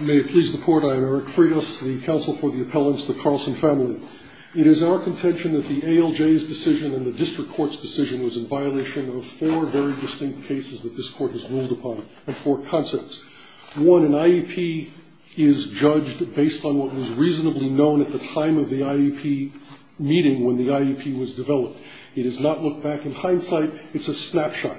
May it please the court, I am Eric Freitas, the counsel for the appellants, the Carlson family. It is our contention that the ALJ's decision and the district court's decision was in violation of four very distinct cases that this court has ruled upon, and four concepts. One, an IEP is judged based on what was reasonably known at the time of the IEP meeting when the IEP was developed. It is not looked back in hindsight, it's a snapshot.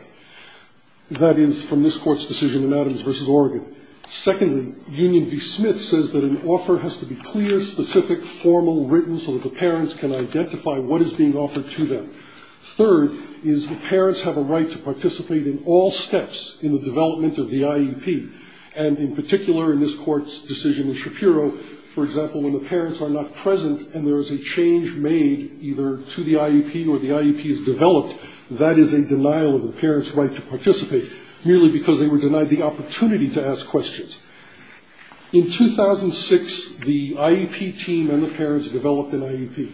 That is from this court's decision in Adams v. Oregon. Secondly, Union v. Smith says that an offer has to be clear, specific, formal, written, so that the parents can identify what is being offered to them. Third is the parents have a right to participate in all steps in the development of the IEP. And in particular, in this court's decision in Shapiro, for example, when the parents are not present and there is a change made either to the IEP or the IEP is developed, that is a denial of the parents' right to participate, merely because they were denied the opportunity to ask questions. In 2006, the IEP team and the parents developed an IEP.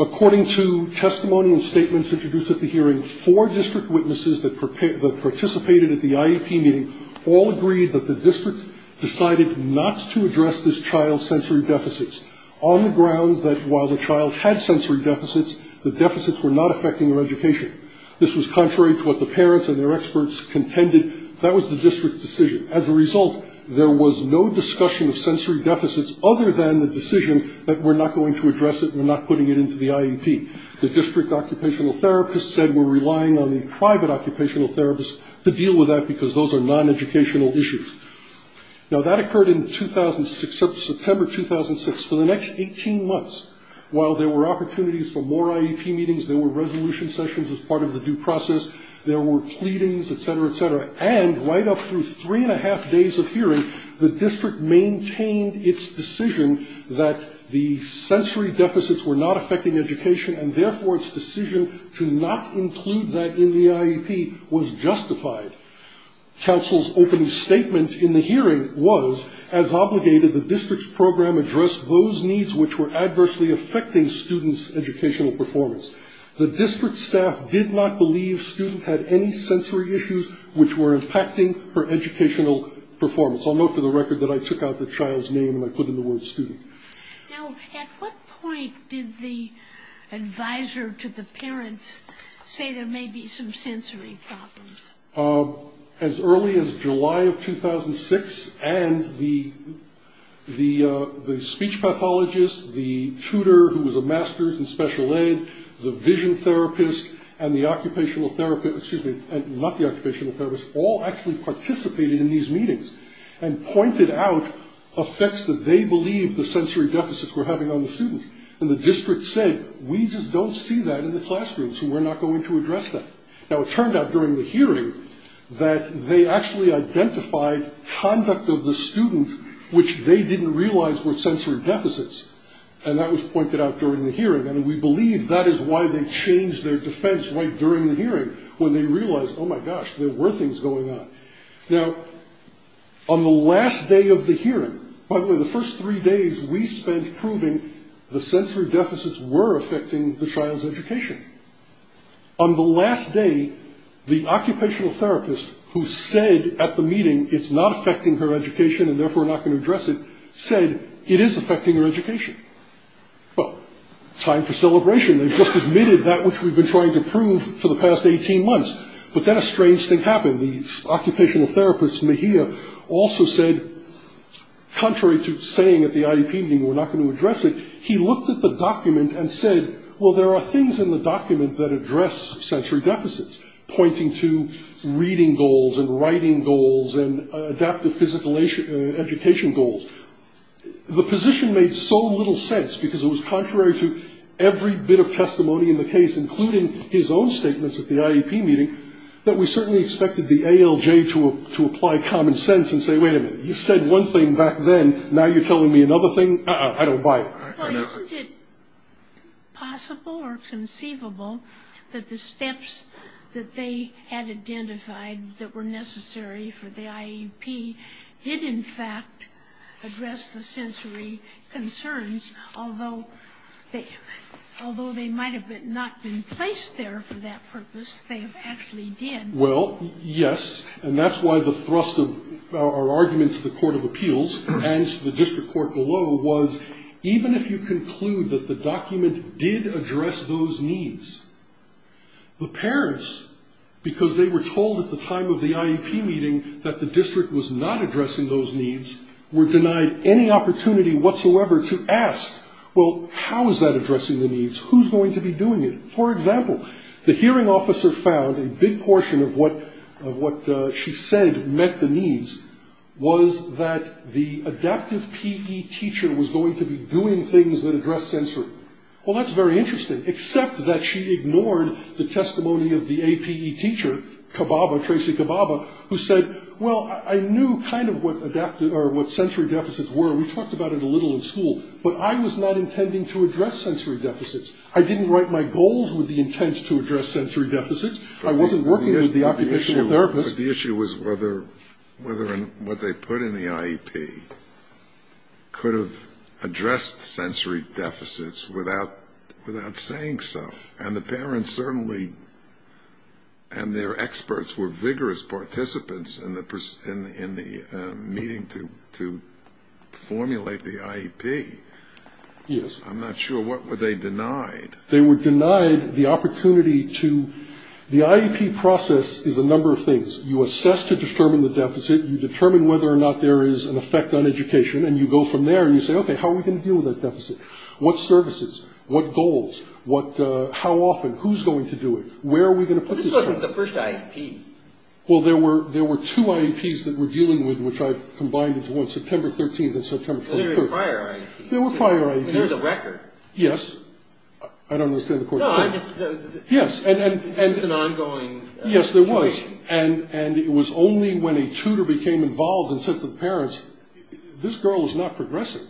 According to testimony and statements introduced at the hearing, four district witnesses that participated at the IEP meeting all agreed that the district decided not to address this child's sensory deficits, on the grounds that while the child had sensory deficits, the deficits were not affecting their education. This was contrary to what the parents and their experts contended. That was the district's decision. As a result, there was no discussion of sensory deficits other than the decision that we're not going to address it, we're not putting it into the IEP. The district occupational therapist said we're relying on the private occupational therapist to deal with that, because those are non-educational issues. Now, that occurred in September 2006. For the next 18 months, while there were opportunities for more IEP meetings, there were resolution sessions as part of the due process, there were pleadings, etc., etc., and right up through three and a half days of hearing, the district maintained its decision that the sensory deficits were not affecting education, and therefore its decision to not include that in the IEP was justified. Council's opening statement in the hearing was, as obligated, the district's program addressed those needs which were adversely affecting students' educational performance. The district staff did not believe students had any sensory issues which were impacting her educational performance. I'll note for the record that I took out the child's name and I put in the word student. Now, at what point did the advisor to the parents say there may be some sensory problems? As early as July of 2006, and the speech pathologist, the tutor who was a master's in special ed, the vision therapist, and the occupational therapist, excuse me, not the occupational therapist, all actually participated in these meetings and pointed out effects that they believed the sensory deficits were having on the student, and the district said, we just don't see that in the classrooms, and we're not going to address that. Now, it turned out during the hearing that they actually identified conduct of the student which they didn't realize were sensory deficits, and that was pointed out during the hearing, and we believe that is why they changed their defense right during the hearing, when they realized, oh my gosh, there were things going on. Now, on the last day of the hearing, by the way, the first three days we spent proving the sensory deficits were affecting the child's education. On the last day, the occupational therapist who said at the meeting it's not affecting her education, and therefore we're not going to address it, said it is affecting her education. Well, time for celebration. They've just admitted that which we've been trying to prove for the past 18 months, but then a strange thing happened. The occupational therapist, Mejia, also said, contrary to saying at the IEP meeting we're not going to address it, he looked at the document and said, well, there are things in the document that address sensory deficits, pointing to reading goals and writing goals and adaptive physical education goals. The position made so little sense, because it was contrary to every bit of testimony in the case, including his own statements at the IEP meeting, that we certainly expected the ALJ to apply common sense and say, wait a minute, you said one thing back then, now you're telling me another thing? Uh-uh, I don't buy it. Well, isn't it possible or conceivable that the steps that they had identified that were necessary for the IEP did in fact address the sensory concerns, although they might have not been placed there for that purpose, they actually did? Well, yes, and that's why the thrust of our argument to the Court of Appeals and to the district court below was, even if you conclude that the document did address those needs, the parents, because they were told at the time of the IEP meeting that the district was not addressing those needs, were denied any opportunity whatsoever to ask, well, how is that addressing the needs? Who's going to be doing it? For example, the hearing officer found a big portion of what she said met the needs was that the adaptive PE teacher was going to be doing things that address sensory. Well, that's very interesting, except that she ignored the testimony of the APE teacher, Kababa, Tracy Kababa, who said, well, I knew kind of what sensory deficits were, we talked about it a little in school, but I was not intending to address sensory deficits. I didn't write my goals with the intent to address sensory deficits. I wasn't working with the occupational therapist. The issue was whether what they put in the IEP could have addressed sensory deficits without saying so, and the parents certainly and their experts were vigorous participants in the meeting to formulate the IEP. Yes. I'm not sure. What were they denied? They were denied the opportunity to, the IEP process is a number of things. You assess to determine the deficit, you determine whether or not there is an effect on education, and you go from there and you say, okay, how are we going to deal with that deficit? What services? What goals? How often? Who's going to do it? Where are we going to put this? This wasn't the first IEP. Well, there were two IEPs that we're dealing with, which I've combined into one, September 13th and September 23rd. There were prior IEPs. There were prior IEPs. And there's a record. Yes. I don't understand the question. No, I'm just. Yes. It's an ongoing. Yes, there was. And it was only when a tutor became involved and said to the parents, this girl is not progressing.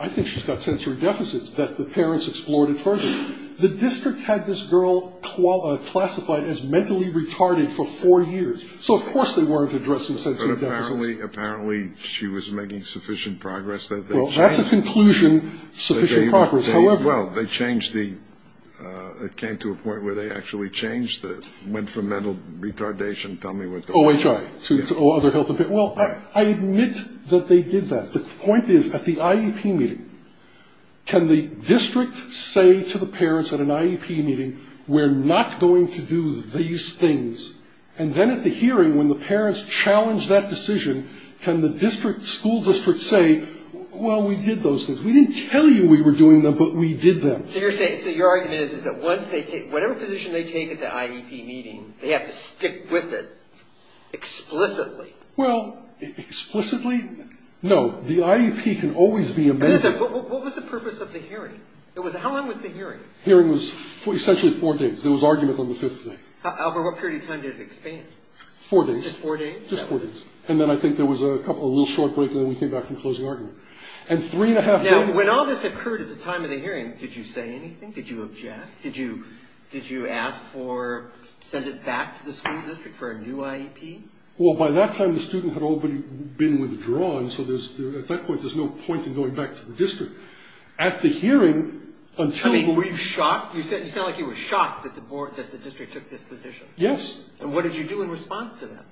I think she's got sensory deficits, that the parents explored it further. The district had this girl classified as mentally retarded for four years. So, of course, they weren't addressing sensory deficits. But apparently she was making sufficient progress. Well, that's a conclusion, sufficient progress. However. Well, they changed the. It came to a point where they actually changed it. Went from mental retardation. Tell me what. OHI. To other health. Well, I admit that they did that. The point is, at the IEP meeting, can the district say to the parents at an IEP meeting, we're not going to do these things. And then at the hearing, when the parents challenged that decision, can the district, school district say, well, we did those things. We didn't tell you we were doing them, but we did them. So you're saying. So your argument is, is that once they take whatever position they take at the IEP meeting, they have to stick with it explicitly. Well, explicitly, no. The IEP can always be amended. What was the purpose of the hearing? It was. How long was the hearing? Hearing was essentially four days. There was argument on the fifth day. Albert, what period of time did it expand? Four days. Just four days? Just four days. And then I think there was a little short break, and then we came back from closing argument. And three and a half days. Now, when all this occurred at the time of the hearing, did you say anything? Did you object? Did you ask for, send it back to the school district for a new IEP? Well, by that time, the student had already been withdrawn. So at that point, there's no point in going back to the district. At the hearing, until we. I mean, were you shocked? You sound like you were shocked that the district took this position. Yes. And what did you do in response to that?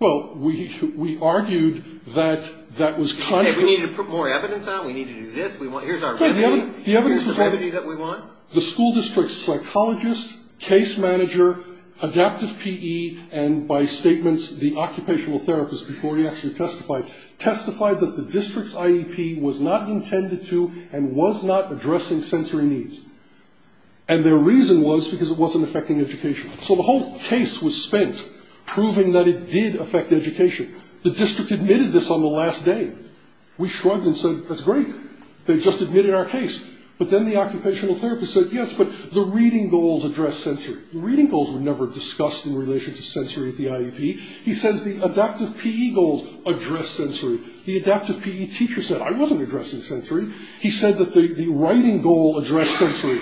Well, we argued that that was. Did you say we need to put more evidence on it? We need to do this? Here's our remedy? Here's the remedy that we want? The school district psychologist, case manager, adaptive PE, and by statements, the occupational therapist, before he actually testified, testified that the district's IEP was not intended to, and was not addressing sensory needs. And their reason was because it wasn't affecting education. So the whole case was spent proving that it did affect education. The district admitted this on the last day. We shrugged and said, that's great. They just admitted our case. But then the occupational therapist said, yes, but the reading goals address sensory. The reading goals were never discussed in relation to sensory at the IEP. He says the adaptive PE goals address sensory. The adaptive PE teacher said, I wasn't addressing sensory. He said that the writing goal addressed sensory.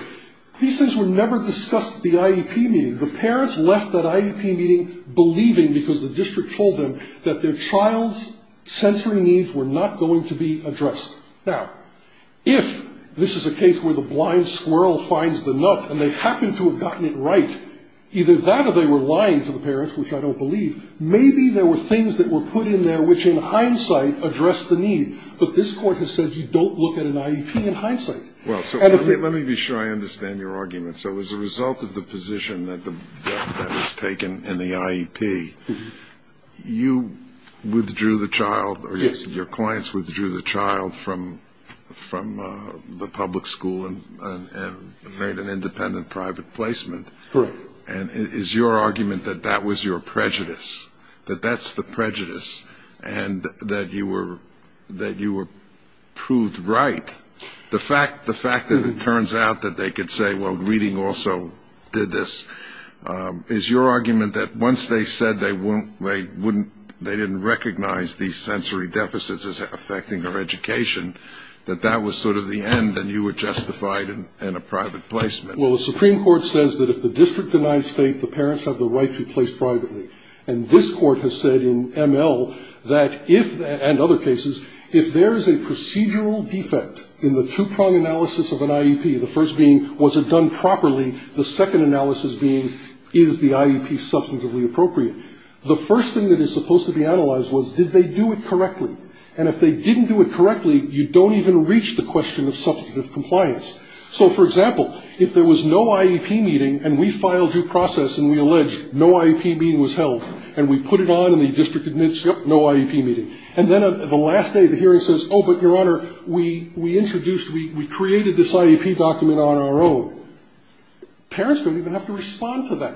These things were never discussed at the IEP meeting. The parents left that IEP meeting believing, because the district told them, that their child's sensory needs were not going to be addressed. Now, if this is a case where the blind squirrel finds the nut and they happen to have gotten it right, either that or they were lying to the parents, which I don't believe, maybe there were things that were put in there which, in hindsight, addressed the need. But this Court has said you don't look at an IEP in hindsight. Well, so let me be sure I understand your argument. So as a result of the position that was taken in the IEP, you withdrew the child, or your clients withdrew the child from the public school and made an independent private placement. Correct. And is your argument that that was your prejudice, that that's the prejudice, and that you were proved right? The fact that it turns out that they could say, well, reading also did this, is your argument that once they said they didn't recognize these sensory deficits as affecting their education, that that was sort of the end and you were justified in a private placement? Well, the Supreme Court says that if the district denies state, the parents have the right to place privately. And this Court has said in ML that if, and other cases, if there is a procedural defect in the two-prong analysis of an IEP, the first being was it done properly, the second analysis being is the IEP substantively appropriate, the first thing that is supposed to be analyzed was did they do it correctly. And if they didn't do it correctly, you don't even reach the question of substantive compliance. So, for example, if there was no IEP meeting and we filed due process and we alleged no IEP meeting was held, and we put it on and the district admits, yep, no IEP meeting. And then the last day of the hearing says, oh, but, Your Honor, we introduced, we created this IEP document on our own. Parents don't even have to respond to that.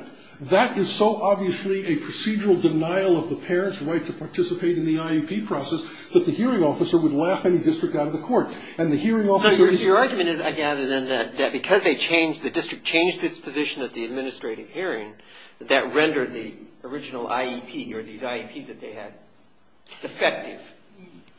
That is so obviously a procedural denial of the parents' right to participate in the IEP process that the hearing officer would laugh any district out of the court. And the hearing officer is. So your argument is, I gather, then, that because they changed, the district changed its position at the administrative hearing, that that rendered the original IEP or these IEPs that they had effective.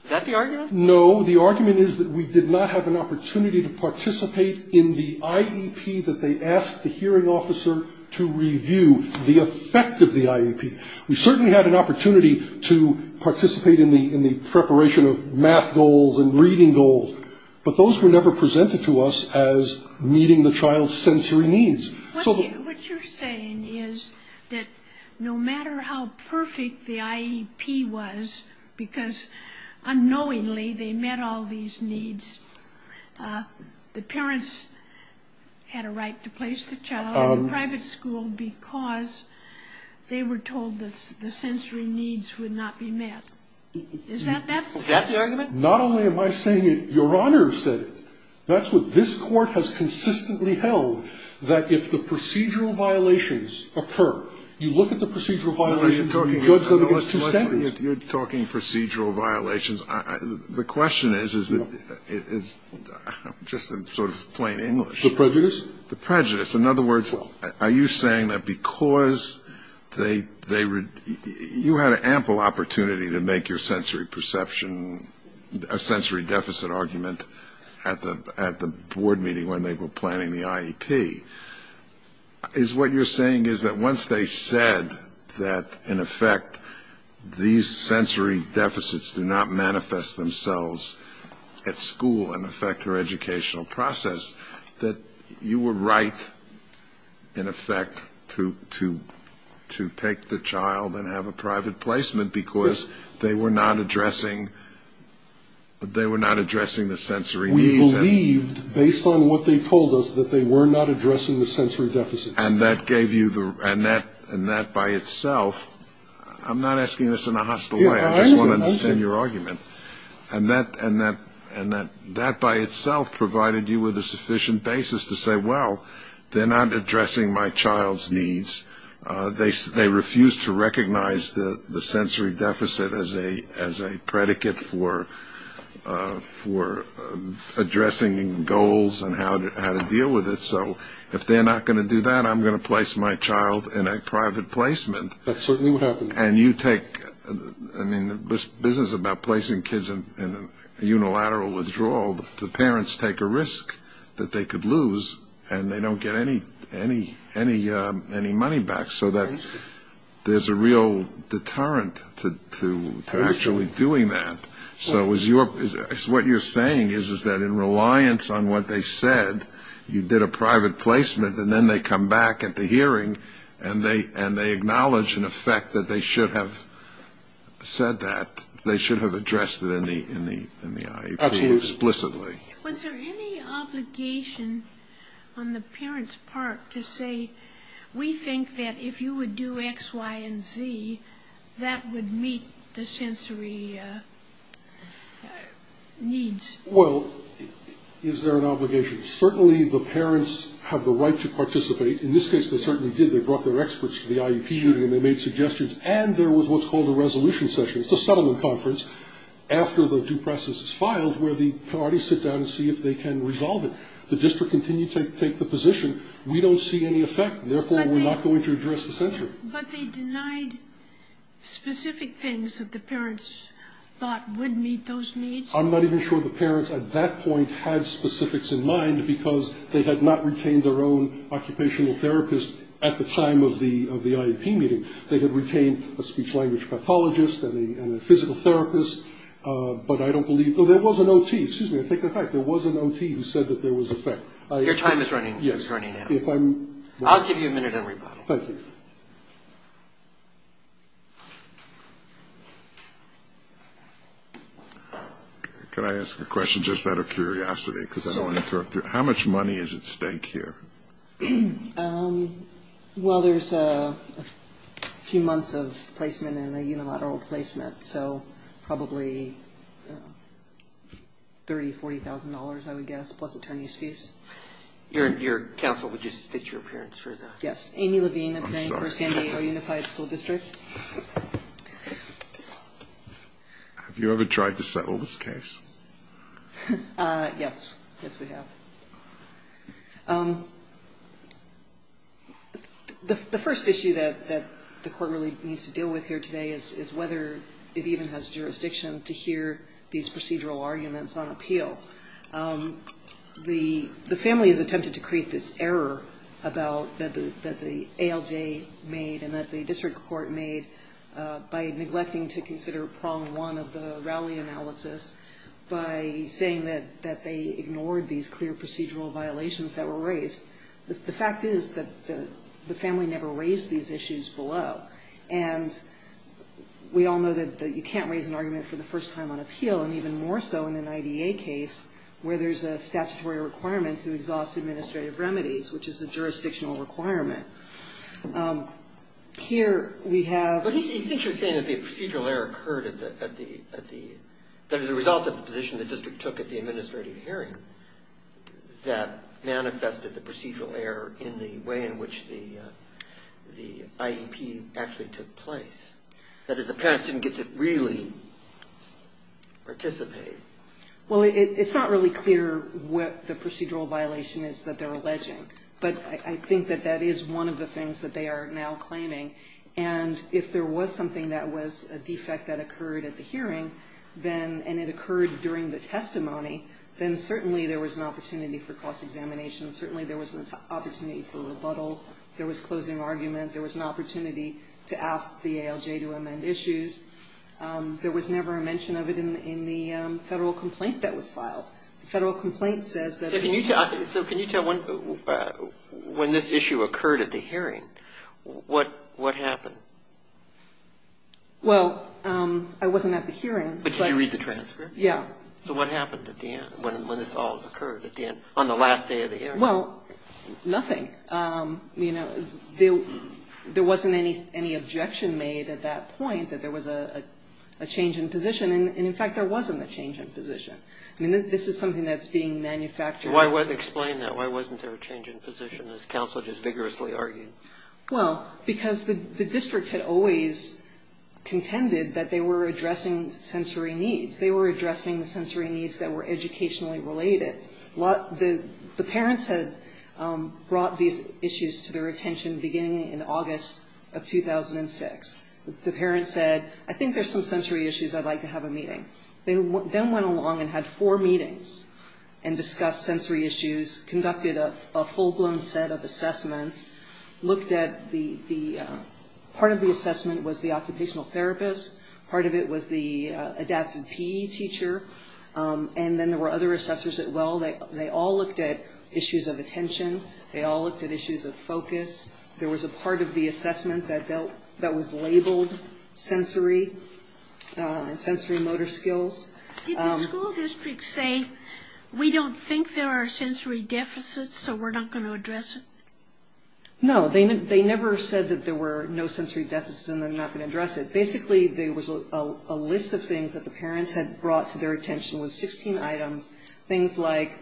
Is that the argument? No. The argument is that we did not have an opportunity to participate in the IEP that they asked the hearing officer to review, the effect of the IEP. We certainly had an opportunity to participate in the preparation of math goals and reading goals, but those were never presented to us as meeting the child's sensory needs. What you're saying is that no matter how perfect the IEP was, because unknowingly they met all these needs, the parents had a right to place the child in a private school because they were told the sensory needs would not be met. Is that that? Is that the argument? Not only am I saying it, Your Honor said it. That's what this Court has consistently held, that if the procedural violations occur, you look at the procedural violations and you judge them against two standards. You're talking procedural violations. The question is, is that it's just sort of plain English. The prejudice? The prejudice. In other words, are you saying that because you had an ample opportunity to make your sensory perception, a sensory deficit argument at the board meeting when they were planning the IEP, is what you're saying is that once they said that, in effect, these sensory deficits do not manifest themselves at school and affect their educational process, that you were right, in effect, to take the child and have a private placement because they were not addressing the sensory needs? They believed, based on what they told us, that they were not addressing the sensory deficits. And that gave you the – and that by itself – I'm not asking this in a hostile way. I just want to understand your argument. And that by itself provided you with a sufficient basis to say, well, they're not addressing my child's needs. They refused to recognize the sensory deficit as a predicate for addressing goals and how to deal with it. So if they're not going to do that, I'm going to place my child in a private placement. That's certainly what happened. And you take – I mean, this business about placing kids in a unilateral withdrawal, the parents take a risk that they could lose and they don't get any money back. So there's a real deterrent to actually doing that. So what you're saying is that in reliance on what they said, you did a private placement, and then they come back at the hearing and they acknowledge, in effect, that they should have said that. They should have addressed it in the IEP. Absolutely. Explicitly. Was there any obligation on the parents' part to say, we think that if you would do X, Y, and Z, that would meet the sensory needs? Well, is there an obligation? Certainly the parents have the right to participate. In this case, they certainly did. They brought their experts to the IEP and they made suggestions. And there was what's called a resolution session. It's a settlement conference after the due process is filed where the parties sit down and see if they can resolve it. The district continued to take the position, we don't see any effect, and therefore we're not going to address the sensory. But they denied specific things that the parents thought would meet those needs? I'm not even sure the parents at that point had specifics in mind because they had not retained their own occupational therapist at the time of the IEP meeting. They had retained a speech-language pathologist and a physical therapist. But I don't believe – oh, there was an OT. Excuse me, I take that back. There was an OT who said that there was effect. Your time is running out. Yes. I'll give you a minute to reply. Thank you. Can I ask a question just out of curiosity because I don't want to interrupt you? How much money is at stake here? Well, there's a few months of placement and a unilateral placement, so probably $30,000, $40,000, I would guess, plus attorney's fees. Your counsel would just state your appearance for that? Yes, Amy Levine, appearing for San Diego Unified School District. Have you ever tried to settle this case? Yes. Yes, we have. The first issue that the court really needs to deal with here today is whether it even has jurisdiction to hear these procedural arguments on appeal. The family has attempted to create this error that the ALJ made and that the district court made by neglecting to consider prong one of the Rowley analysis, by saying that they ignored these clear procedural violations that were raised. The fact is that the family never raised these issues below, and we all know that you can't raise an argument for the first time on appeal, and even more so in an IDA case where there's a statutory requirement to exhaust administrative remedies, which is a jurisdictional requirement. Here we have the procedural error occurred at the result of the position the district took at the administrative hearing that manifested the procedural error in the way in which the IEP actually took place. That is, the parents didn't get to really participate. Well, it's not really clear what the procedural violation is that they're alleging, but I think that that is one of the things that they are now claiming, and if there was something that was a defect that occurred at the hearing, and it occurred during the testimony, then certainly there was an opportunity for cross-examination. Certainly there was an opportunity for rebuttal. There was closing argument. There was an opportunity to ask the ALJ to amend issues. There was never a mention of it in the federal complaint that was filed. The federal complaint says that it was... So can you tell when this issue occurred at the hearing, what happened? Well, I wasn't at the hearing, but... But did you read the transcript? Yeah. So what happened at the end, when this all occurred at the end, on the last day of the hearing? Well, nothing. There wasn't any objection made at that point that there was a change in position, and, in fact, there wasn't a change in position. I mean, this is something that's being manufactured. Explain that. Why wasn't there a change in position, as counsel just vigorously argued? Well, because the district had always contended that they were addressing sensory needs. They were addressing the sensory needs that were educationally related. The parents had brought these issues to their attention beginning in August of 2006. The parents said, I think there's some sensory issues. I'd like to have a meeting. They then went along and had four meetings and discussed sensory issues, conducted a full-blown set of assessments, looked at the... Part of the assessment was the occupational therapist. Part of it was the adaptive PE teacher. And then there were other assessors as well. They all looked at issues of attention. They all looked at issues of focus. There was a part of the assessment that was labeled sensory, sensory motor skills. Did the school district say, we don't think there are sensory deficits, so we're not going to address it? No. They never said that there were no sensory deficits and they're not going to address it. Basically, there was a list of things that the parents had brought to their attention. It was 16 items, things like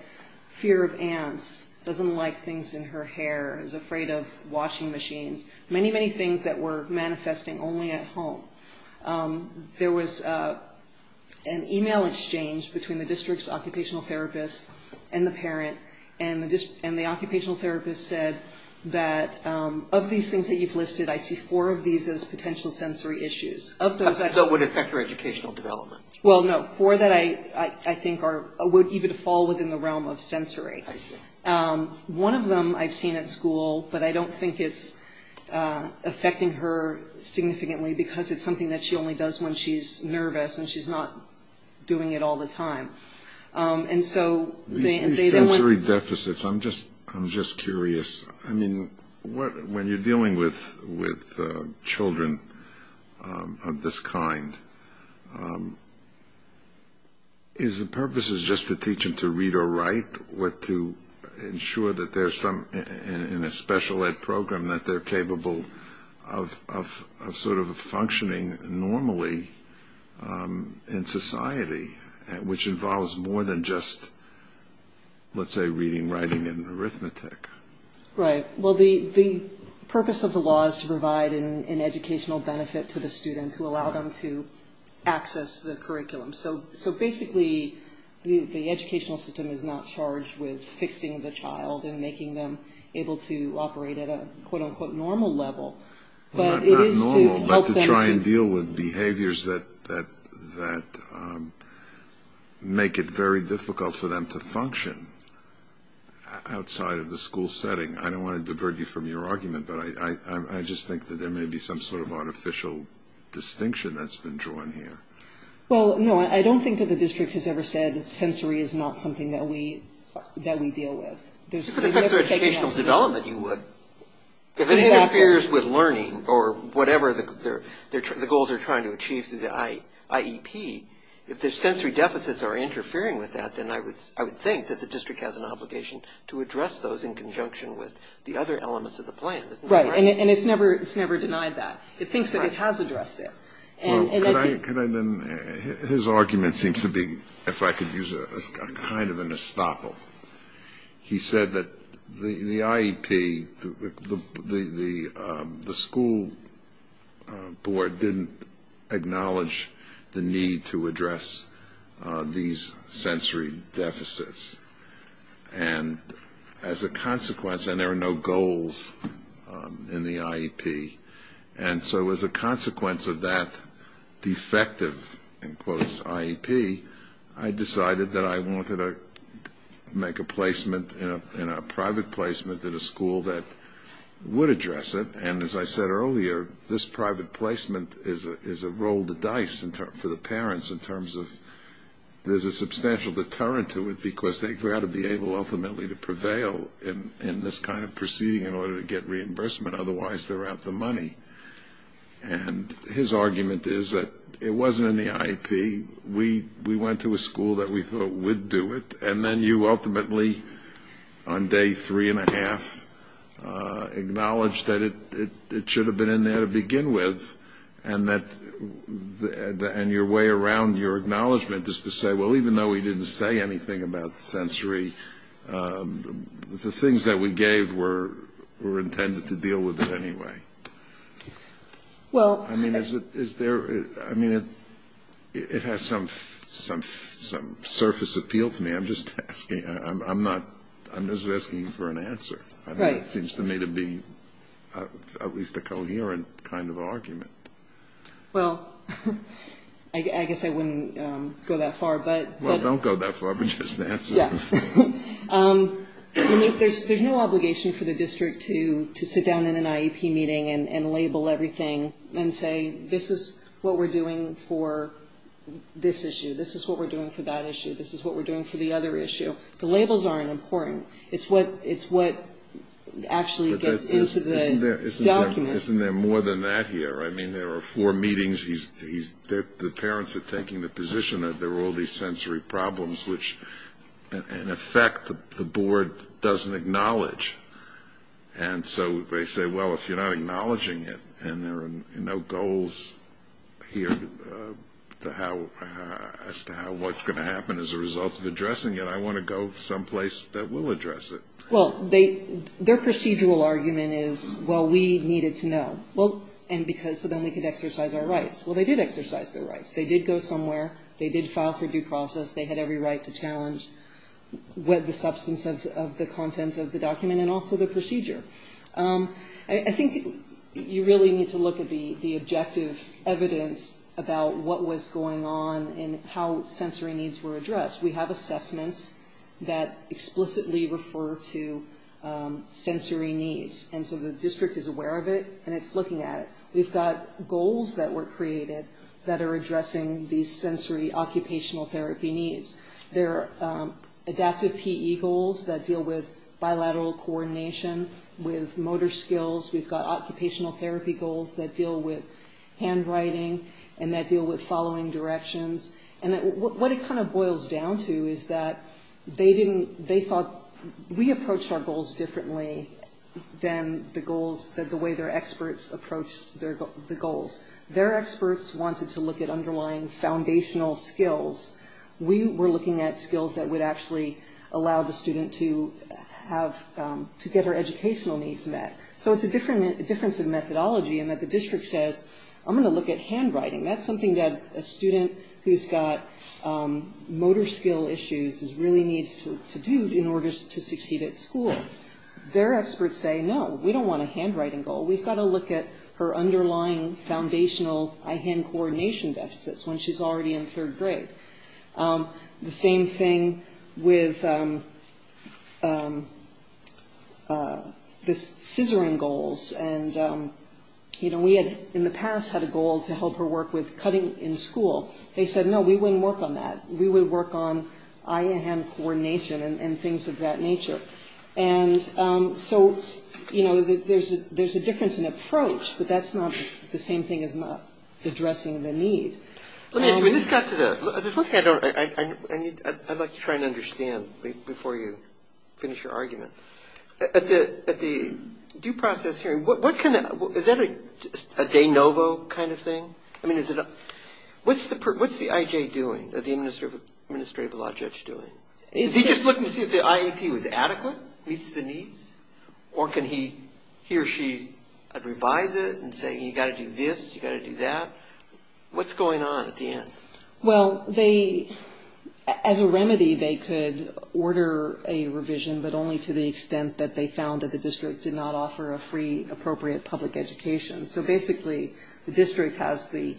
fear of ants, doesn't like things in her hair, is afraid of washing machines, many, many things that were manifesting only at home. There was an e-mail exchange between the district's occupational therapist and the parent, and the occupational therapist said that of these things that you've listed, I see four of these as potential sensory issues. Of those... That would affect her educational development. Well, no. Four that I think would even fall within the realm of sensory. I see. One of them I've seen at school, but I don't think it's affecting her significantly because it's something that she only does when she's nervous and she's not doing it all the time. And so... These sensory deficits, I'm just curious. I mean, when you're dealing with children of this kind, is the purpose just to teach them to read or write or to ensure that in a special ed program that they're capable of sort of functioning normally in society, which involves more than just, let's say, reading, writing, and arithmetic? Right. Well, the purpose of the law is to provide an educational benefit to the student to allow them to access the curriculum. So basically the educational system is not charged with fixing the child and making them able to operate at a quote-unquote normal level, but it is to help them... make it very difficult for them to function outside of the school setting. I don't want to divert you from your argument, but I just think that there may be some sort of artificial distinction that's been drawn here. Well, no, I don't think that the district has ever said that sensory is not something that we deal with. If it affects their educational development, you would. If it interferes with learning or whatever the goals are trying to achieve through the IEP, if the sensory deficits are interfering with that, then I would think that the district has an obligation to address those in conjunction with the other elements of the plan. Right, and it's never denied that. It thinks that it has addressed it. Well, could I then... His argument seems to be, if I could use kind of an estoppel, he said that the IEP, the school board, didn't acknowledge the need to address these sensory deficits. And as a consequence, and there are no goals in the IEP, and so as a consequence of that defective, in quotes, IEP, I decided that I wanted to make a placement, a private placement at a school that would address it. And as I said earlier, this private placement is a roll of the dice for the parents in terms of there's a substantial deterrent to it because they've got to be able ultimately to prevail in this kind of proceeding in order to get reimbursement. Otherwise, they're out the money. And his argument is that it wasn't in the IEP. We went to a school that we thought would do it, and then you ultimately, on day three and a half, acknowledged that it should have been in there to begin with, and your way around your acknowledgement is to say, well, even though we didn't say anything about the sensory, the things that we gave were intended to deal with it anyway. I mean, it has some surface appeal to me. I'm just asking for an answer. It seems to me to be at least a coherent kind of argument. Well, I guess I wouldn't go that far. Well, don't go that far, but just answer. Yeah. I mean, there's no obligation for the district to sit down in an IEP meeting and label everything and say this is what we're doing for this issue, this is what we're doing for that issue, this is what we're doing for the other issue. The labels aren't important. It's what actually gets into the document. Isn't there more than that here? I mean, there are four meetings. The parents are taking the position that there are all these sensory problems, which, in effect, the board doesn't acknowledge. And so they say, well, if you're not acknowledging it and there are no goals here as to what's going to happen as a result of addressing it, I want to go someplace that will address it. Well, their procedural argument is, well, we needed to know, so then we could exercise our rights. Well, they did exercise their rights. They did go somewhere. They did file for due process. They had every right to challenge the substance of the content of the document and also the procedure. I think you really need to look at the objective evidence about what was going on and how sensory needs were addressed. We have assessments that explicitly refer to sensory needs, and so the district is aware of it and it's looking at it. We've got goals that were created that are addressing these sensory occupational therapy needs. There are adaptive PE goals that deal with bilateral coordination with motor skills. We've got occupational therapy goals that deal with handwriting and that deal with following directions. And what it kind of boils down to is that they thought we approached our goals differently than the way their experts approached the goals. Their experts wanted to look at underlying foundational skills. We were looking at skills that would actually allow the student to get her educational needs met. So it's a difference in methodology in that the district says, I'm going to look at handwriting. That's something that a student who's got motor skill issues really needs to do in order to succeed at school. Their experts say, no, we don't want a handwriting goal. We've got to look at her underlying foundational eye-hand coordination deficits when she's already in third grade. The same thing with the scissoring goals. We had in the past had a goal to help her work with cutting in school. They said, no, we wouldn't work on that. We would work on eye-hand coordination and things of that nature. And so, you know, there's a difference in approach, but that's not the same thing as not addressing the need. Let me ask you, we just got to the one thing I'd like to try and understand before you finish your argument. At the due process hearing, is that a de novo kind of thing? I mean, what's the IJ doing, the administrative law judge doing? Is he just looking to see if the IEP was adequate, meets the needs, or can he or she revise it and say, you've got to do this, you've got to do that? What's going on at the end? Well, as a remedy, they could order a revision, but only to the extent that they found that the district did not offer a free appropriate public education. So basically, the district has the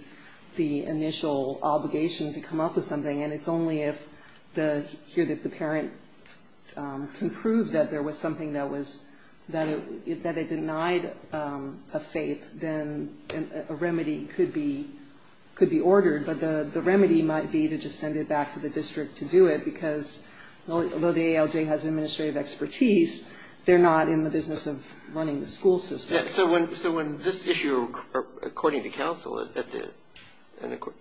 initial obligation to come up with something, and it's only if the parent can prove that there was something that it denied a FAPE, then a remedy could be ordered. But the remedy might be to just send it back to the district to do it, because although the ALJ has administrative expertise, they're not in the business of running the school system. So when this issue, according to counsel,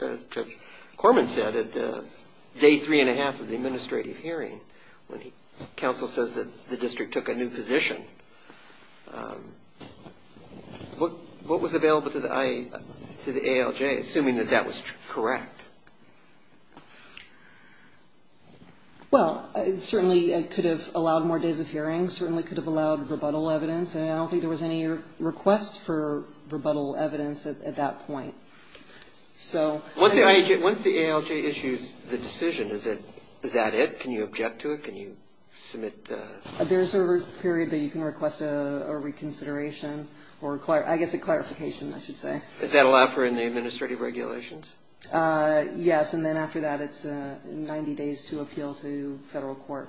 as Judge Corman said, at day three and a half of the administrative hearing, when counsel says that the district took a new position, what was available to the ALJ, assuming that that was correct? Well, it certainly could have allowed more days of hearings, certainly could have allowed rebuttal evidence, and I don't think there was any request for rebuttal evidence at that point. Once the ALJ issues the decision, is that it? Can you object to it? Can you submit the ---- There's a period that you can request a reconsideration, or I guess a clarification, I should say. Is that allowed for in the administrative regulations? Yes, and then after that, it's 90 days to appeal to federal court.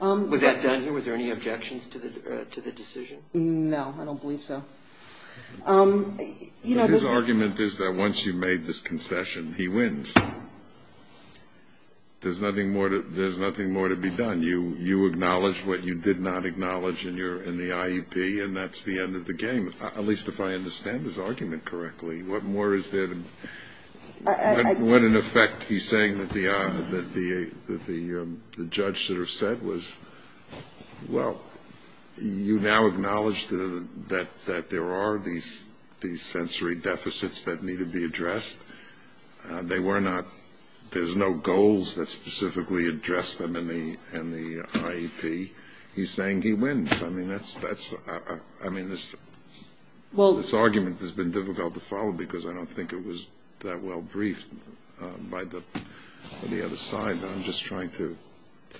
Was that done here? Were there any objections to the decision? No, I don't believe so. His argument is that once you've made this concession, he wins. There's nothing more to be done. You acknowledge what you did not acknowledge in the IUP, and that's the end of the game, at least if I understand his argument correctly. What more is there to ---- What, in effect, he's saying that the judge should have said was, well, you now acknowledge that there are these sensory deficits that need to be addressed. They were not ---- there's no goals that specifically address them in the IUP. He's saying he wins. I mean, that's ---- I mean, this argument has been difficult to follow because I don't think it was that well briefed by the other side. I'm just trying to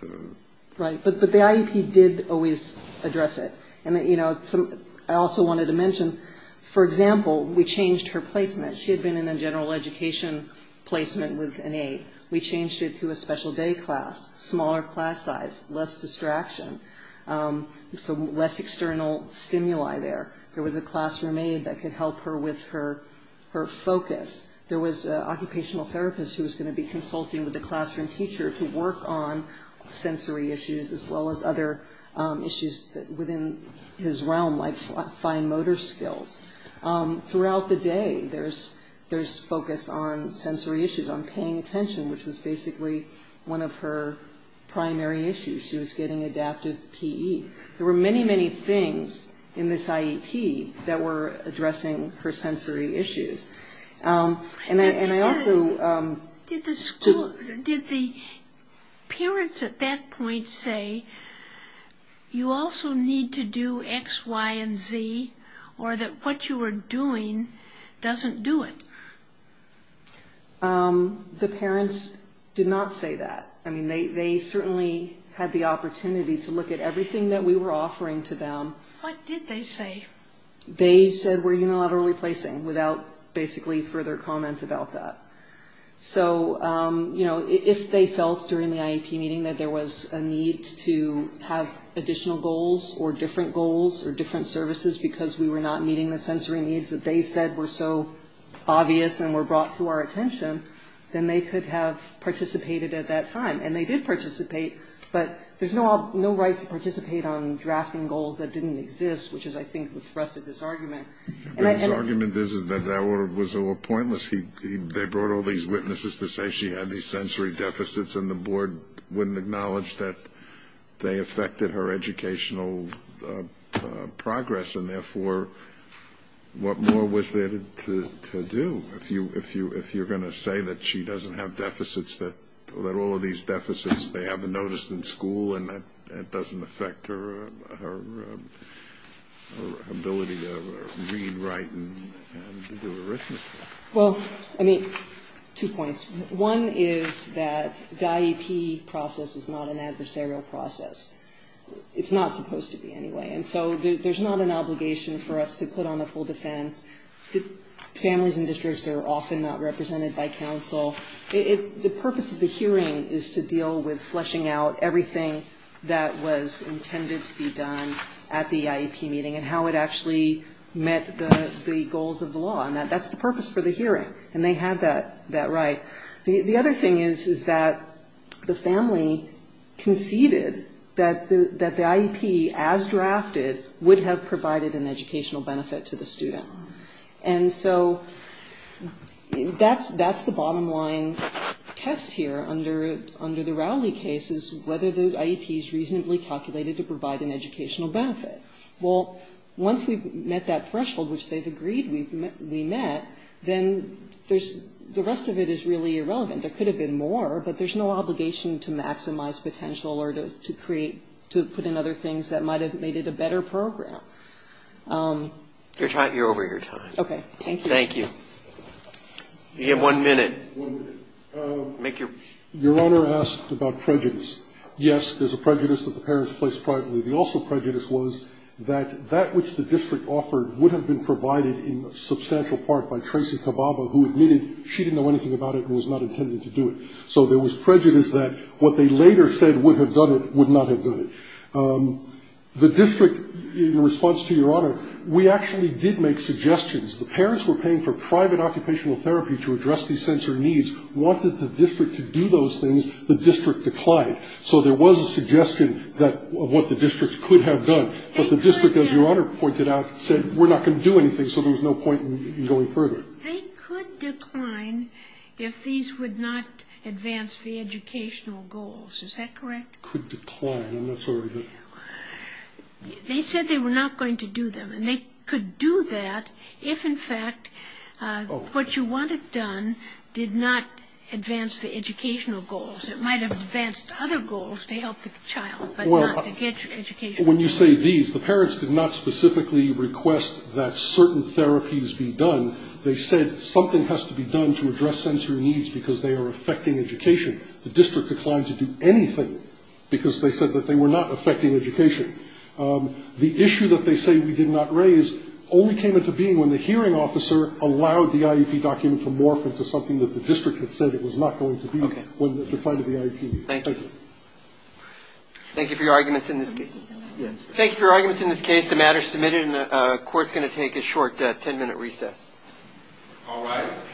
---- Right. But the IUP did always address it. And, you know, I also wanted to mention, for example, we changed her placement. She had been in a general education placement with an aide. We changed it to a special day class, smaller class size, less distraction. So less external stimuli there. There was a classroom aide that could help her with her focus. There was an occupational therapist who was going to be consulting with the classroom teacher to work on sensory issues as well as other issues within his realm, like fine motor skills. Throughout the day, there's focus on sensory issues, on paying attention, which was basically one of her primary issues. She was getting adaptive PE. There were many, many things in this IUP that were addressing her sensory issues. And I also ---- Did the parents at that point say you also need to do X, Y, and Z or that what you were doing doesn't do it? The parents did not say that. I mean, they certainly had the opportunity to look at everything that we were offering to them. What did they say? They said we're unilaterally placing without basically further comment about that. So, you know, if they felt during the IUP meeting that there was a need to have additional goals or different goals or different services because we were not meeting the sensory needs that they said were so obvious and were brought to our attention, then they could have participated at that time. And they did participate. But there's no right to participate on drafting goals that didn't exist, which is I think what thrusted this argument. But his argument is that that was all pointless. They brought all these witnesses to say she had these sensory deficits and the board wouldn't acknowledge that they affected her educational progress. And therefore, what more was there to do if you're going to say that she doesn't have deficits, that all of these deficits they haven't noticed in school and that doesn't affect her ability to read, write, and do arithmetic? Well, I mean, two points. One is that the IUP process is not an adversarial process. It's not supposed to be anyway. And so there's not an obligation for us to put on a full defense. Families and districts are often not represented by counsel. The purpose of the hearing is to deal with fleshing out everything that was intended to be done at the IUP meeting and how it actually met the goals of the law. And that's the purpose for the hearing. And they had that right. The other thing is that the family conceded that the IUP as drafted would have provided an educational benefit to the student. And so that's the bottom line test here under the Rowley case is whether the IUP is reasonably calculated to provide an educational benefit. Well, once we've met that threshold, which they've agreed we met, then there's the rest of it is really irrelevant. There could have been more, but there's no obligation to maximize potential or to create, to put in other things that might have made it a better program. Roberts. You're over your time. Okay. Thank you. Thank you. You have one minute. One minute. Your Honor asked about prejudice. Yes, there's a prejudice that the parents placed privately. The also prejudice was that that which the district offered would have been provided in substantial part by Tracy Kababa, who admitted she didn't know anything about it and was not intended to do it. So there was prejudice that what they later said would have done it would not have done it. The district, in response to Your Honor, we actually did make suggestions. The parents were paying for private occupational therapy to address these sensory needs, wanted the district to do those things. The district declined. So there was a suggestion of what the district could have done. But the district, as Your Honor pointed out, said we're not going to do anything. So there was no point in going further. They could decline if these would not advance the educational goals. Is that correct? Could decline. I'm not sure. They said they were not going to do them. And they could do that if, in fact, what you wanted done did not advance the educational goals. It might have advanced other goals to help the child, but not to get your education. When you say these, the parents did not specifically request that certain therapies be done. They said something has to be done to address sensory needs because they are affecting education. The district declined to do anything because they said that they were not affecting education. The issue that they say we did not raise only came into being when the hearing officer allowed the IEP document to morph into something that the district had said it was not going to be when it was defined as the IEP. Thank you. Thank you for your arguments in this case. Thank you for your arguments in this case. The matter is submitted and the court is going to take a short ten-minute recess. All rise.